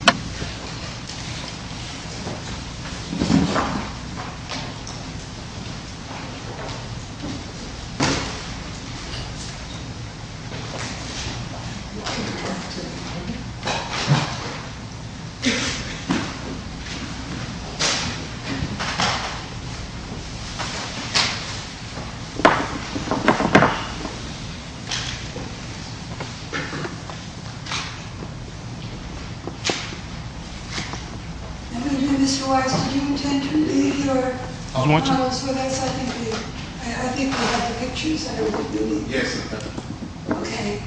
Recruits?? Mr. Weiss, did you intend to leave your files with us? I think we have the pictures. Yes, ma'am. Okay.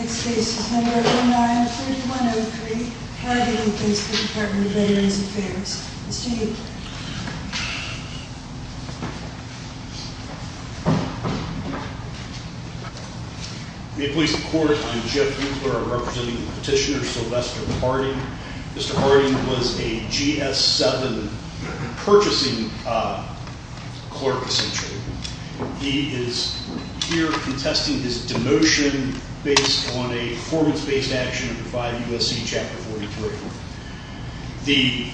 Next case is number 09-3103. How do you do, please, for the Department of Veterans Affairs? May it please the Court, I'm Jeff Hensler. I'm representing Petitioner Sylvester Harding. Mr. Harding was a GS-7 purchasing clerk, essentially. He is here contesting his demotion based on a performance-based action by USC Chapter 43. The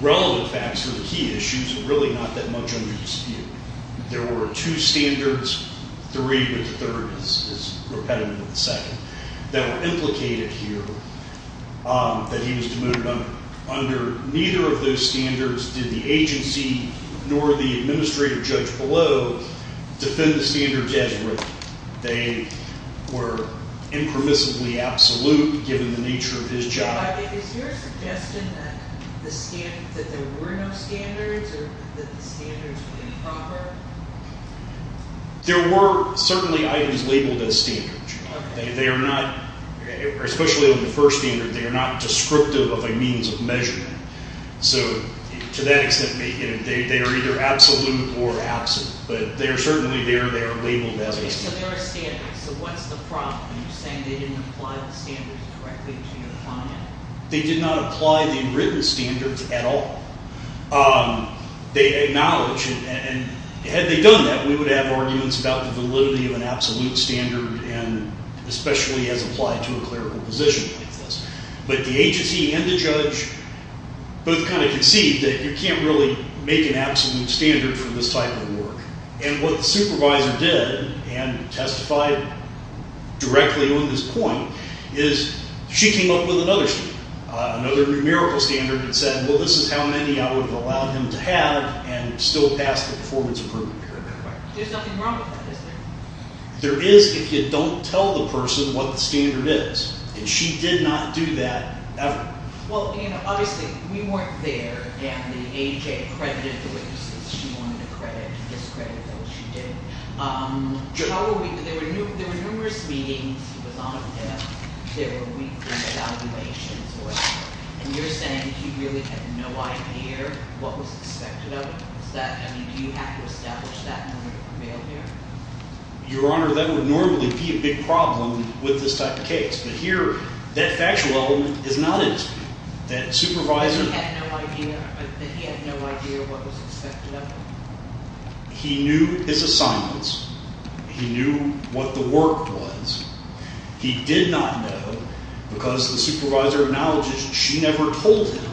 relevant facts for the key issues are really not that much under dispute. There were two standards, three, but the third is repetitive of the second, that were implicated here that he was demoted under. Under neither of those standards did the agency nor the administrative judge below defend the standards as written. They were impermissibly absolute given the nature of his job. Is your suggestion that there were no standards or that the standards were improper? There were certainly items labeled as standards. They are not, especially on the first standard, they are not descriptive of a means of measurement. To that extent, they are either absolute or absent, but they are certainly there, they are labeled as standards. So there are standards, so what's the problem? You're saying they didn't apply the standards correctly to your client? They did not apply the written standards at all. They acknowledge, and had they done that, we would have arguments about the validity of an absolute standard, especially as applied to a clerical position like this. But the agency and the judge both kind of conceived that you can't really make an absolute standard for this type of work. And what the supervisor did, and testified directly on this point, is she came up with another standard, another numerical standard that said, well, this is how many I would have allowed him to have and still pass the performance approval period. There's nothing wrong with that, is there? There is if you don't tell the person what the standard is, and she did not do that, ever. Well, you know, obviously, we weren't there, and the AJ accredited the witnesses she wanted accredited, discredited those she didn't. There were numerous meetings he was on, and there were weekly evaluations, and you're saying he really had no idea what was expected of him. Is that, I mean, do you have to establish that in order to prevail here? Your Honor, that would normally be a big problem with this type of case. But here, that factual element is not it. That supervisor had no idea, that he had no idea what was expected of him. He knew his assignments. He knew what the work was. He did not know, because the supervisor acknowledges she never told him,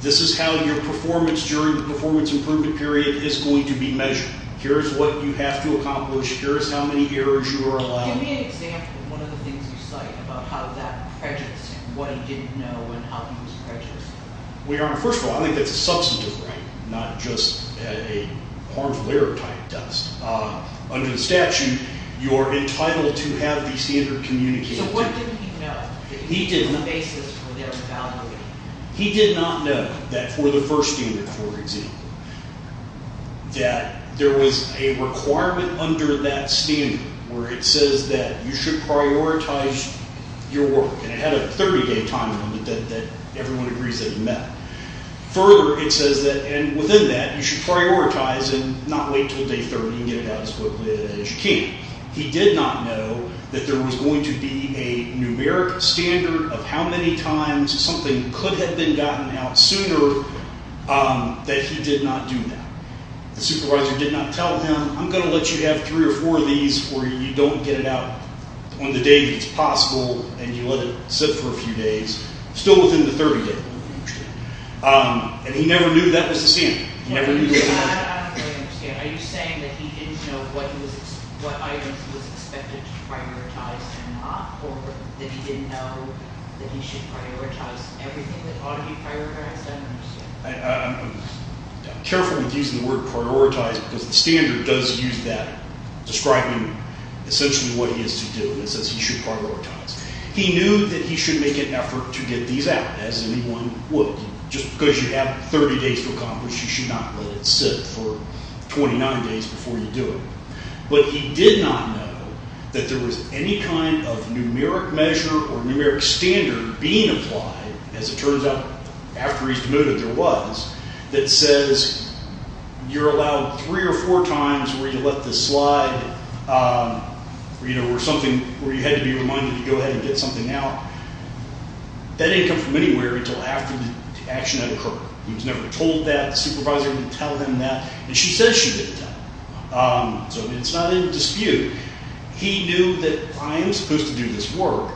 this is how your performance during the performance improvement period is going to be measured. Here is what you have to accomplish. Here is how many errors you are allowed. Give me an example of one of the things you cite about how that prejudiced what he didn't know and how he was prejudiced. Well, Your Honor, first of all, I think that's a substantive right, not just a harmful error type test. Under the statute, you're entitled to have the standard communicated to you. So what didn't he know? He didn't know. He did not know that for the first unit, for example, that there was a requirement under that standard where it says that you should prioritize your work. And it had a 30-day time limit that everyone agrees that you met. Further, it says that within that, you should prioritize and not wait until day 30 and get it out as quickly as you can. He did not know that there was going to be a numeric standard of how many times something could have been gotten out sooner, that he did not do that. The supervisor did not tell him, I'm going to let you have three or four of these where you don't get it out on the day that it's possible, and you let it sit for a few days, still within the 30-day. And he never knew that was the standard. I don't really understand. Are you saying that he didn't know what items he was expected to prioritize and not? Or that he didn't know that he should prioritize everything that ought to be prioritized? I don't understand. I'm careful with using the word prioritize because the standard does use that, describing essentially what he has to do. It says he should prioritize. He knew that he should make an effort to get these out, as anyone would. Just because you have 30 days to accomplish, you should not let it sit for 29 days before you do it. But he did not know that there was any kind of numeric measure or numeric standard being applied, as it turns out, after he's denoted there was, that says you're allowed three or four times where you let the slide or something where you had to be reminded to go ahead and get something out. That didn't come from anywhere until after the action had occurred. He was never told that. The supervisor didn't tell him that. And she says she didn't tell him. So it's not in dispute. He knew that I am supposed to do this work.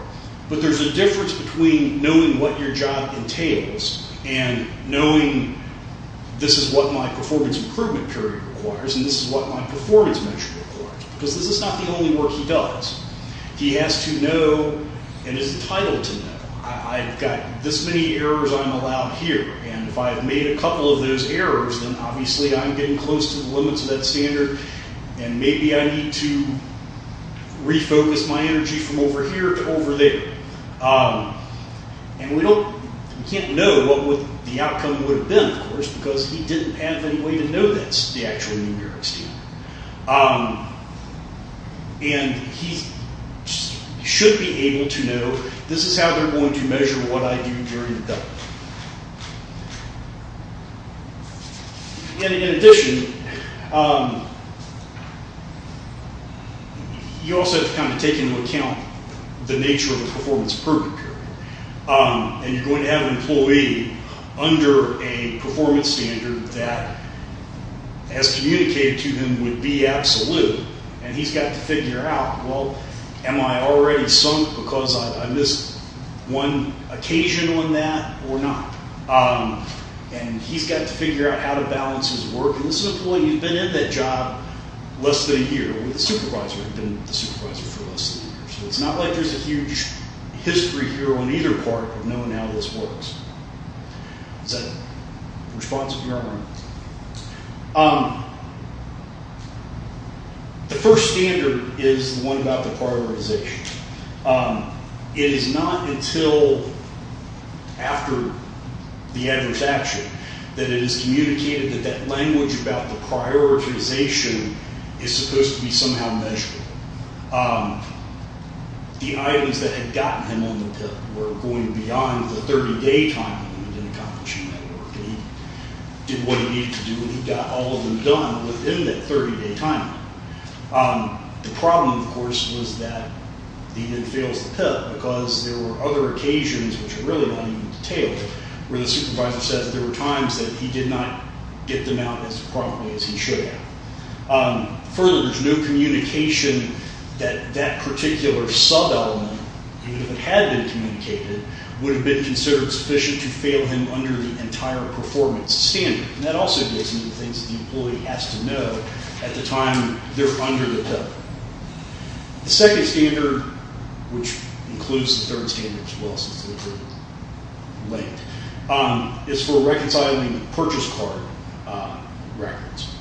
But there's a difference between knowing what your job entails and knowing this is what my performance improvement period requires and this is what my performance measure requires. Because this is not the only work he does. He has to know, and is entitled to know, I've got this many errors I'm allowed here. And if I've made a couple of those errors, then obviously I'm getting close to the limits of that standard. And maybe I need to refocus my energy from over here to over there. And we can't know what the outcome would have been, of course, because he didn't have any way to know that's the actual numeric standard. And he should be able to know this is how they're going to measure what I do during the day. And in addition, he also has to kind of take into account the nature of the performance improvement period. And you're going to have an employee under a performance standard that, as communicated to him, would be absolute. And he's got to figure out, well, am I already sunk because I missed one occasion on that or not? And he's got to figure out how to balance his work. And this employee, he's been in that job less than a year. The supervisor had been the supervisor for less than a year. So it's not like there's a huge history here on either part of knowing how this works. Is that a response of your own? The first standard is the one about the prioritization. It is not until after the adverse action that it is communicated that that language about the prioritization is supposed to be somehow measured. The items that had gotten him on the PIP were going beyond the 30-day time limit in accomplishing that work. And he did what he needed to do, and he got all of them done within that 30-day time limit. The problem, of course, was that he then fails the PIP because there were other occasions, which are really not even detailed, where the supervisor says there were times that he did not get them out as promptly as he should have. Further, there's no communication that that particular sub-element, even if it had been communicated, would have been considered sufficient to fail him under the entire performance standard. And that also gives him the things that the employee has to know at the time they're under the PIP. The second standard, which includes the third standard as well, since they're both linked, is for reconciling purchase card records.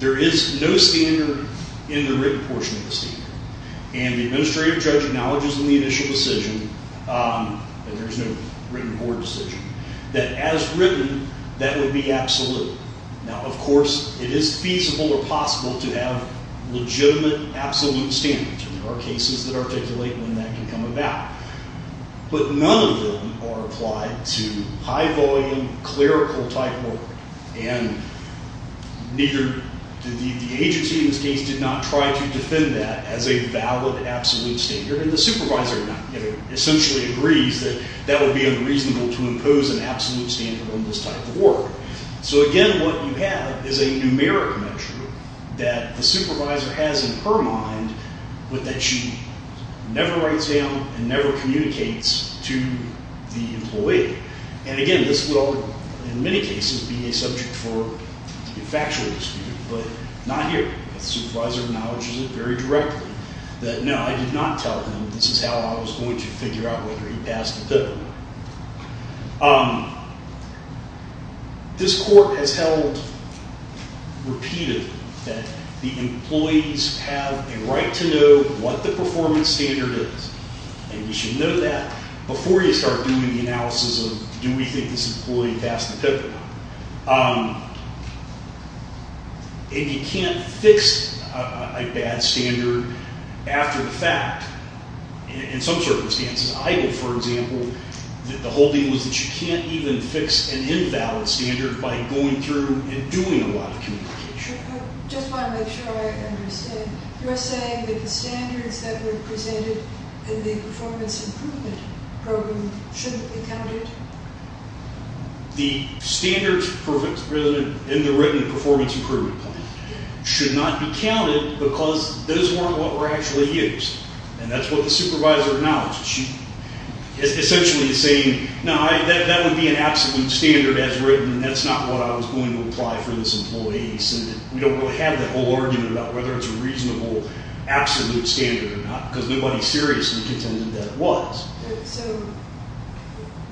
There is no standard in the written portion of the statement. And the administrative judge acknowledges in the initial decision that there is no written board decision, that as written, that would be absolute. Now, of course, it is feasible or possible to have legitimate absolute standards, and there are cases that articulate when that can come about. But none of them are applied to high-volume, clerical-type work. And neither did the agency in this case did not try to defend that as a valid absolute standard. And the supervisor essentially agrees that that would be unreasonable to impose an absolute standard on this type of work. So again, what you have is a numeric measure that the supervisor has in her mind, but that she never writes down and never communicates to the employee. And again, this will, in many cases, be a subject for a factual dispute, but not here. The supervisor acknowledges it very directly that, no, I did not tell him this is how I was going to figure out whether he passed the PIP or not. This Court has held repeatedly that the employees have a right to know what the performance standard is, and we should know that before you start doing the analysis of do we think this employee passed the PIP or not. And you can't fix a bad standard after the fact in some circumstances. I know, for example, that the whole thing was that you can't even fix an invalid standard by going through and doing a lot of communication. I just want to make sure I understand. You're saying that the standards that were presented in the performance improvement program shouldn't be counted? The standards in the written performance improvement plan should not be counted because those weren't what were actually used. And that's what the supervisor acknowledged. She essentially is saying, no, that would be an absolute standard as written, and that's not what I was going to apply for this employee. So we don't really have that whole argument about whether it's a reasonable absolute standard or not because nobody seriously contended that it was. So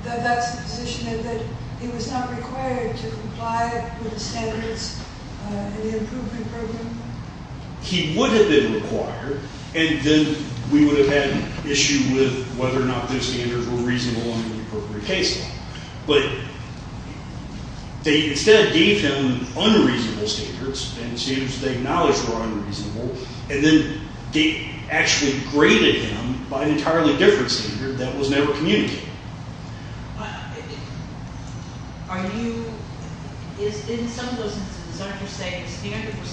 that's the position, that he was not required to comply with the standards in the improvement program? He would have been required, and then we would have had an issue with whether or not those standards were reasonable in the appropriate case law. But they instead gave him unreasonable standards and standards that they acknowledged were unreasonable, and then they actually graded him by an entirely different standard that was never communicated. Are you – in some of those instances, aren't you saying the standard was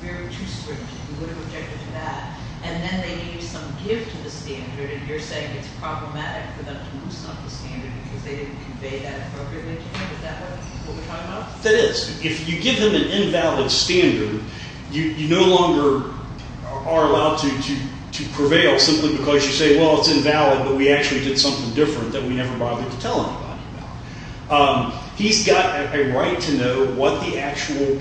very too strict? You would have objected to that, and then they gave some give to the standard, and you're saying it's problematic for them to loosen up the standard because they didn't convey that appropriately to him? Is that what we're talking about? That is. If you give him an invalid standard, you no longer are allowed to prevail simply because you say, well, it's invalid, but we actually did something different that we never bothered to tell anybody about. He's got a right to know what the actual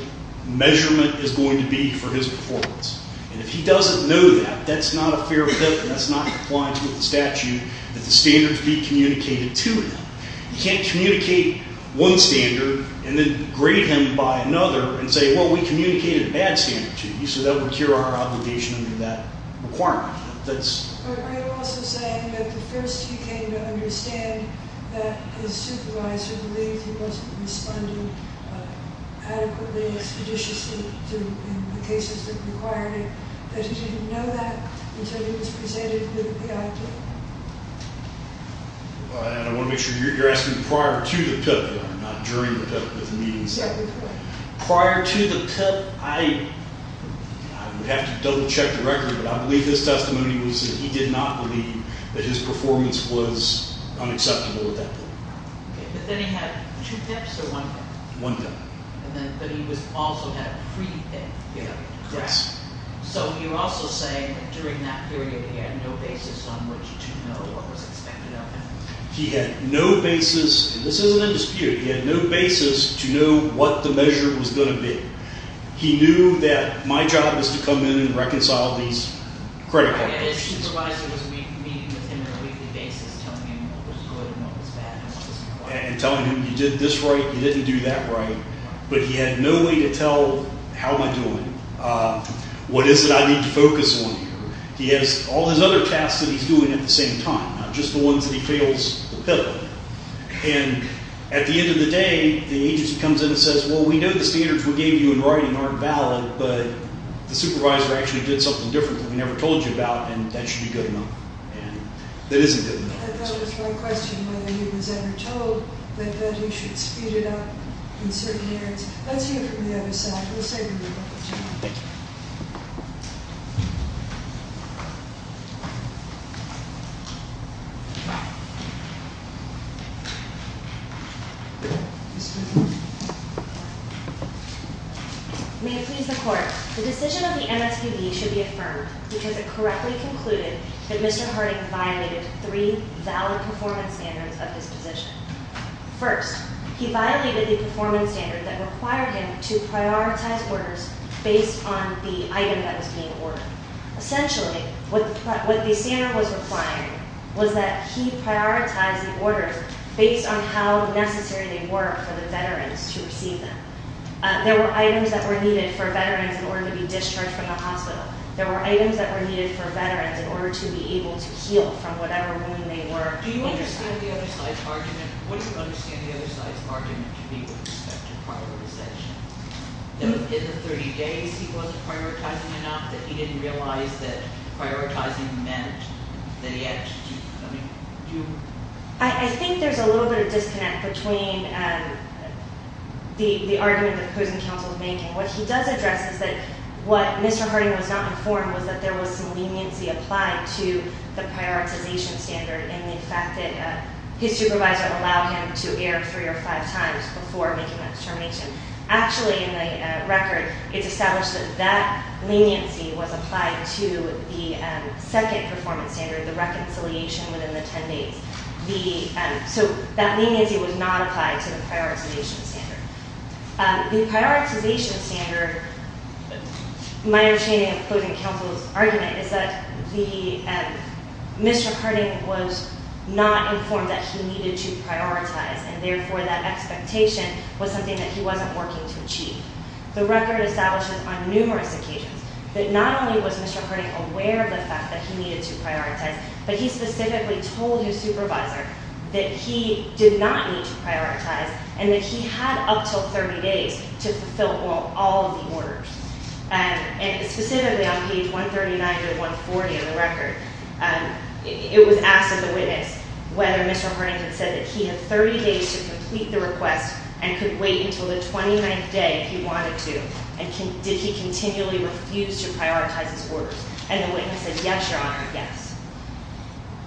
measurement is going to be for his performance. And if he doesn't know that, that's not a fair – that's not compliant with the statute that the standards be communicated to him. You can't communicate one standard and then grade him by another and say, well, we communicated a bad standard to you, so that would cure our obligation under that requirement. But are you also saying that the first he came to understand that his supervisor believed he wasn't responding adequately and seditiously in the cases that required it, that he didn't know that until he was presented with the PIP? I want to make sure you're asking prior to the PIP, not during the PIP, but the meetings. Prior to the PIP, I would have to double check directly, but I believe his testimony was that he did not believe that his performance was unacceptable at that point. But then he had two PIPs or one PIP? One PIP. But he also had a pre-PIP, correct? Yes. So you're also saying that during that period he had no basis on which to know what was expected of him? He had no basis – and this isn't a dispute – he had no basis to know what the measure was going to be. He knew that my job was to come in and reconcile these credit card issues. And his supervisor was meeting with him on a weekly basis, telling him what was good and what was bad and what wasn't right. And telling him, you did this right, you didn't do that right. But he had no way to tell, how am I doing? What is it I need to focus on here? He has all his other tasks that he's doing at the same time, not just the ones that he fails the PIP on. And at the end of the day, the agency comes in and says, well, we know the standards we gave you in writing aren't valid, but the supervisor actually did something different that we never told you about, and that should be good enough. And that isn't good enough. I thought it was my question whether he was ever told that he should speed it up in certain areas. Let's hear from the other side. We'll save them the opportunity. Thank you. Mr. Harding. May it please the Court. The decision of the MSPB should be affirmed because it correctly concluded that Mr. Harding violated three valid performance standards of his position. First, he violated the performance standard that required him to prioritize orders based on the item that was being ordered. Essentially, what the standard was requiring was that he prioritize the orders based on how necessary they were for the veterans to receive them. There were items that were needed for veterans in order to be discharged from the hospital. There were items that were needed for veterans in order to be able to heal from whatever wound they were. Do you understand the other side's argument? What do you understand the other side's argument to be with respect to prioritization? Is it 30 days he wasn't prioritizing enough that he didn't realize that prioritizing meant that he had to do something? I think there's a little bit of disconnect between the argument that the opposing counsel is making. What he does address is that what Mr. Harding was not informed was that there was some leniency applied to the prioritization standard in the fact that his supervisor allowed him to err three or five times before making that determination. Actually, in the record, it's established that that leniency was applied to the second performance standard, the reconciliation within the 10 days. So that leniency was not applied to the prioritization standard. The prioritization standard, my understanding of opposing counsel's argument, is that Mr. Harding was not informed that he needed to prioritize, and therefore that expectation was something that he wasn't working to achieve. The record establishes on numerous occasions that not only was Mr. Harding aware of the fact that he needed to prioritize, but he specifically told his supervisor that he did not need to prioritize and that he had up to 30 days to fulfill all of the orders. And specifically on page 139 and 140 of the record, it was asked of the witness whether Mr. Harding had said that he had 30 days to complete the request and could wait until the 29th day if he wanted to, and did he continually refuse to prioritize his orders? And the witness said, yes, Your Honor, yes.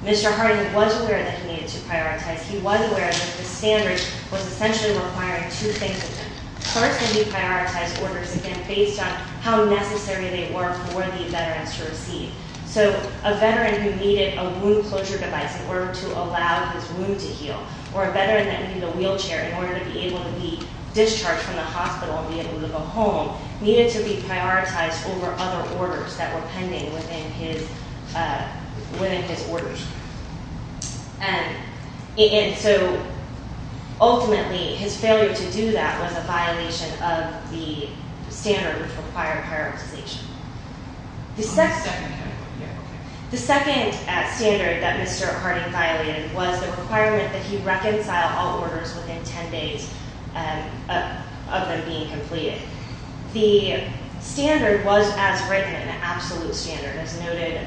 Mr. Harding was aware that he needed to prioritize. He was aware that the standard was essentially requiring two things of him. First, that he prioritized orders again based on how necessary they were for the veterans to receive. So a veteran who needed a wound closure device in order to allow his wound to heal, or a veteran that needed a wheelchair in order to be able to be discharged from the hospital and be able to go home, needed to be prioritized over other orders that were pending within his orders. And so ultimately his failure to do that was a violation of the standard which required prioritization. The second standard that Mr. Harding violated was the requirement that he reconcile all orders within 10 days of them being completed. The standard was as written, an absolute standard, as noted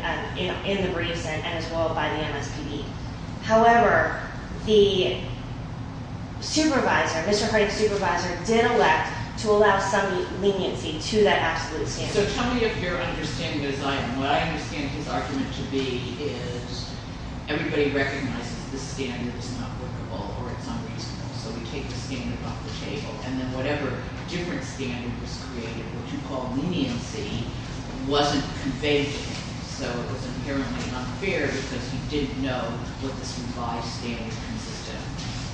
in the briefs and as well by the MSPD. However, the supervisor, Mr. Harding's supervisor, did elect to allow some leniency to that absolute standard. So tell me of your understanding of this item. What I understand his argument to be is everybody recognizes the standard is not workable or it's unreasonable. So we take the standard off the table. And then whatever different standard was created, what you call leniency, wasn't conveyed to him. So it was inherently unfair because he didn't know what the survived standards consisted of.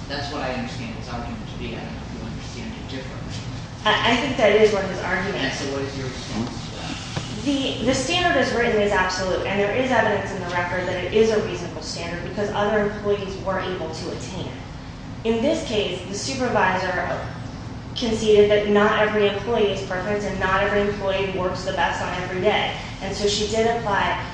That's what I understand his argument to be. I don't know if you understand it differently. I think that is what his argument is. So what is your response to that? The standard as written is absolute. And there is evidence in the record that it is a reasonable standard because other employees weren't able to attain it. In this case, the supervisor conceded that not every employee is perfect and not every employee works the best on every day. And so she did apply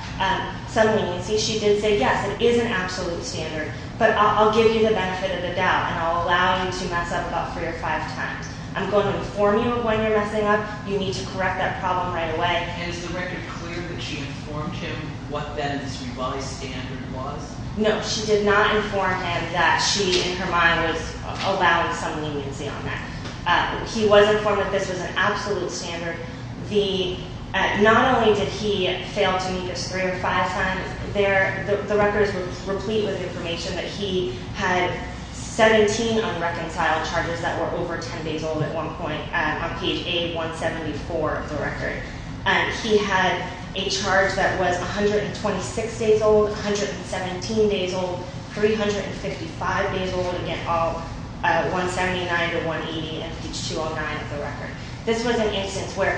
some leniency. She did say, yes, it is an absolute standard, but I'll give you the benefit of the doubt, and I'll allow you to mess up about three or five times. I'm going to inform you of when you're messing up. You need to correct that problem right away. And is the record clear that she informed him what then this revised standard was? No, she did not inform him that she, in her mind, was allowing some leniency on that. He was informed that this was an absolute standard. Not only did he fail to meet his three or five times there, the records were complete with information that he had 17 unreconciled charges that were over 10 days old at one point on page A174 of the record. He had a charge that was 126 days old, 117 days old, 355 days old. Again, all 179 to 180 and page 209 of the record. This was an instance where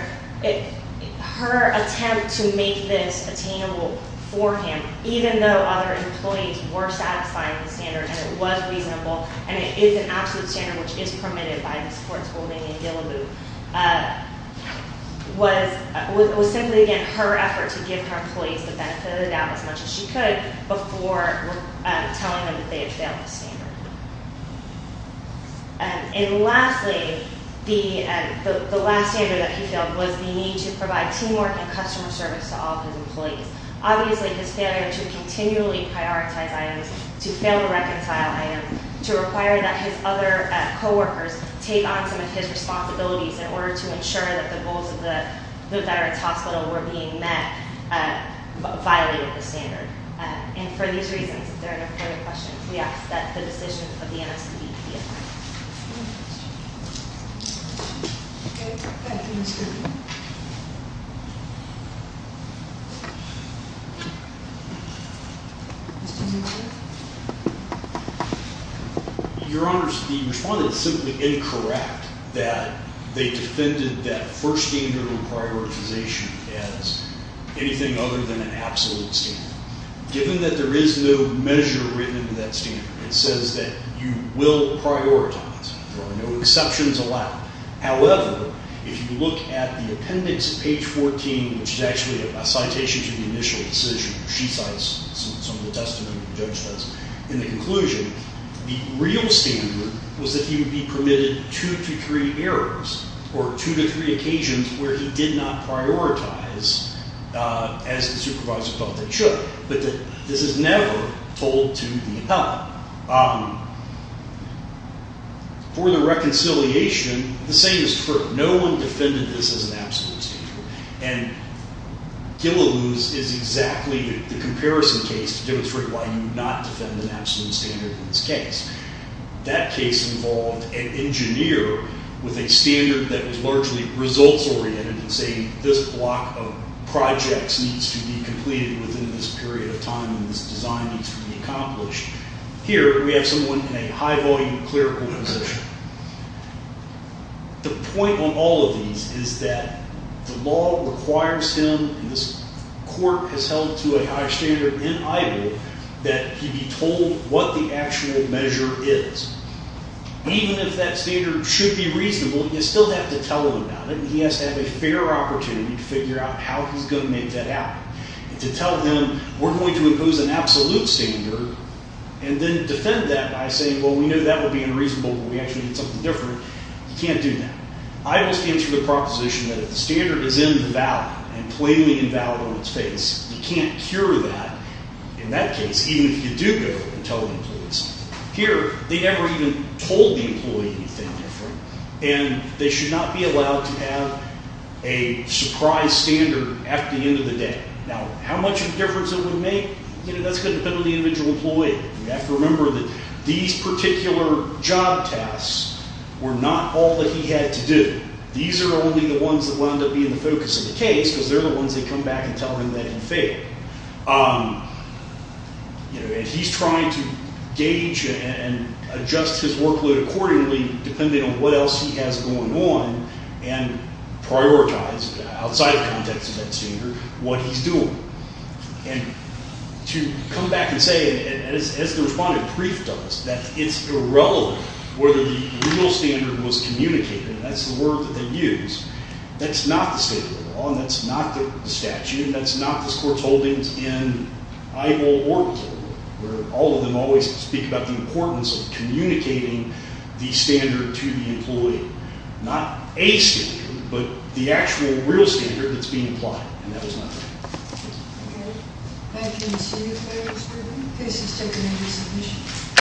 her attempt to make this attainable for him, even though other employees were satisfying the standard and it was reasonable and it is an absolute standard, which is permitted by the sports holding in Gilliboo, was simply, again, her effort to give her employees the benefit of the doubt as much as she could before telling them that they had failed the standard. And lastly, the last standard that he failed was the need to provide teamwork and customer service to all of his employees. Obviously, his failure to continually prioritize items, to fail to reconcile items, to require that his other coworkers take on some of his responsibilities in order to ensure that the goals of the veterans hospital were being met violated the standard. And for these reasons, they're an important question to be asked. That's the decision of the MSPB. Any questions? Okay. Thank you, Ms. Griffin. Your Honors, the respondent is simply incorrect that they defended that first standard of prioritization as anything other than an absolute standard. Given that there is no measure written into that standard, it says that you will prioritize. There are no exceptions allowed. However, if you look at the appendix, page 14, which is actually a citation to the initial decision, she cites some of the testimony the judge does in the conclusion, the real standard was that he would be permitted two to three errors or two to three occasions where he did not prioritize as the supervisor felt that he should. But this is never told to the appellate. For the reconciliation, the same is true. No one defended this as an absolute standard. And Gilliloo's is exactly the comparison case to demonstrate why you would not defend an absolute standard in this case. That case involved an engineer with a standard that was largely results-oriented in saying this block of projects needs to be completed within this period of time and this design needs to be accomplished. Here, we have someone in a high-volume clerical position. The point on all of these is that the law requires him, and this court has held to a high standard in idle, that he be told what the actual measure is. Even if that standard should be reasonable, you still have to tell him about it, and he has to have a fair opportunity to figure out how he's going to make that happen. And to tell him, we're going to impose an absolute standard, and then defend that by saying, well, we know that would be unreasonable, but we actually need something different, he can't do that. Idle stands for the proposition that if the standard is invalid and plainly invalid on its face, he can't cure that, in that case, even if you do go and tell the employee something. Here, they never even told the employee anything different, and they should not be allowed to have a surprise standard at the end of the day. Now, how much of a difference it would make? You know, that's going to depend on the individual employee. You have to remember that these particular job tasks were not all that he had to do. These are only the ones that wound up being the focus of the case because they're the ones that come back and tell him that he failed. And he's trying to gauge and adjust his workload accordingly, depending on what else he has going on, and prioritize, outside the context of that standard, what he's doing. And to come back and say, as the respondent briefed us, that it's irrelevant whether the real standard was communicated, and that's the word that they used. That's not the state of the law, and that's not the statute, and that's not this court's holdings in Iowa or Missouri, where all of them always speak about the importance of communicating the standard to the employee. Not a standard, but the actual, real standard that's being applied. And that was my point. Thank you. Thank you. Thank you. Case is taken into submission.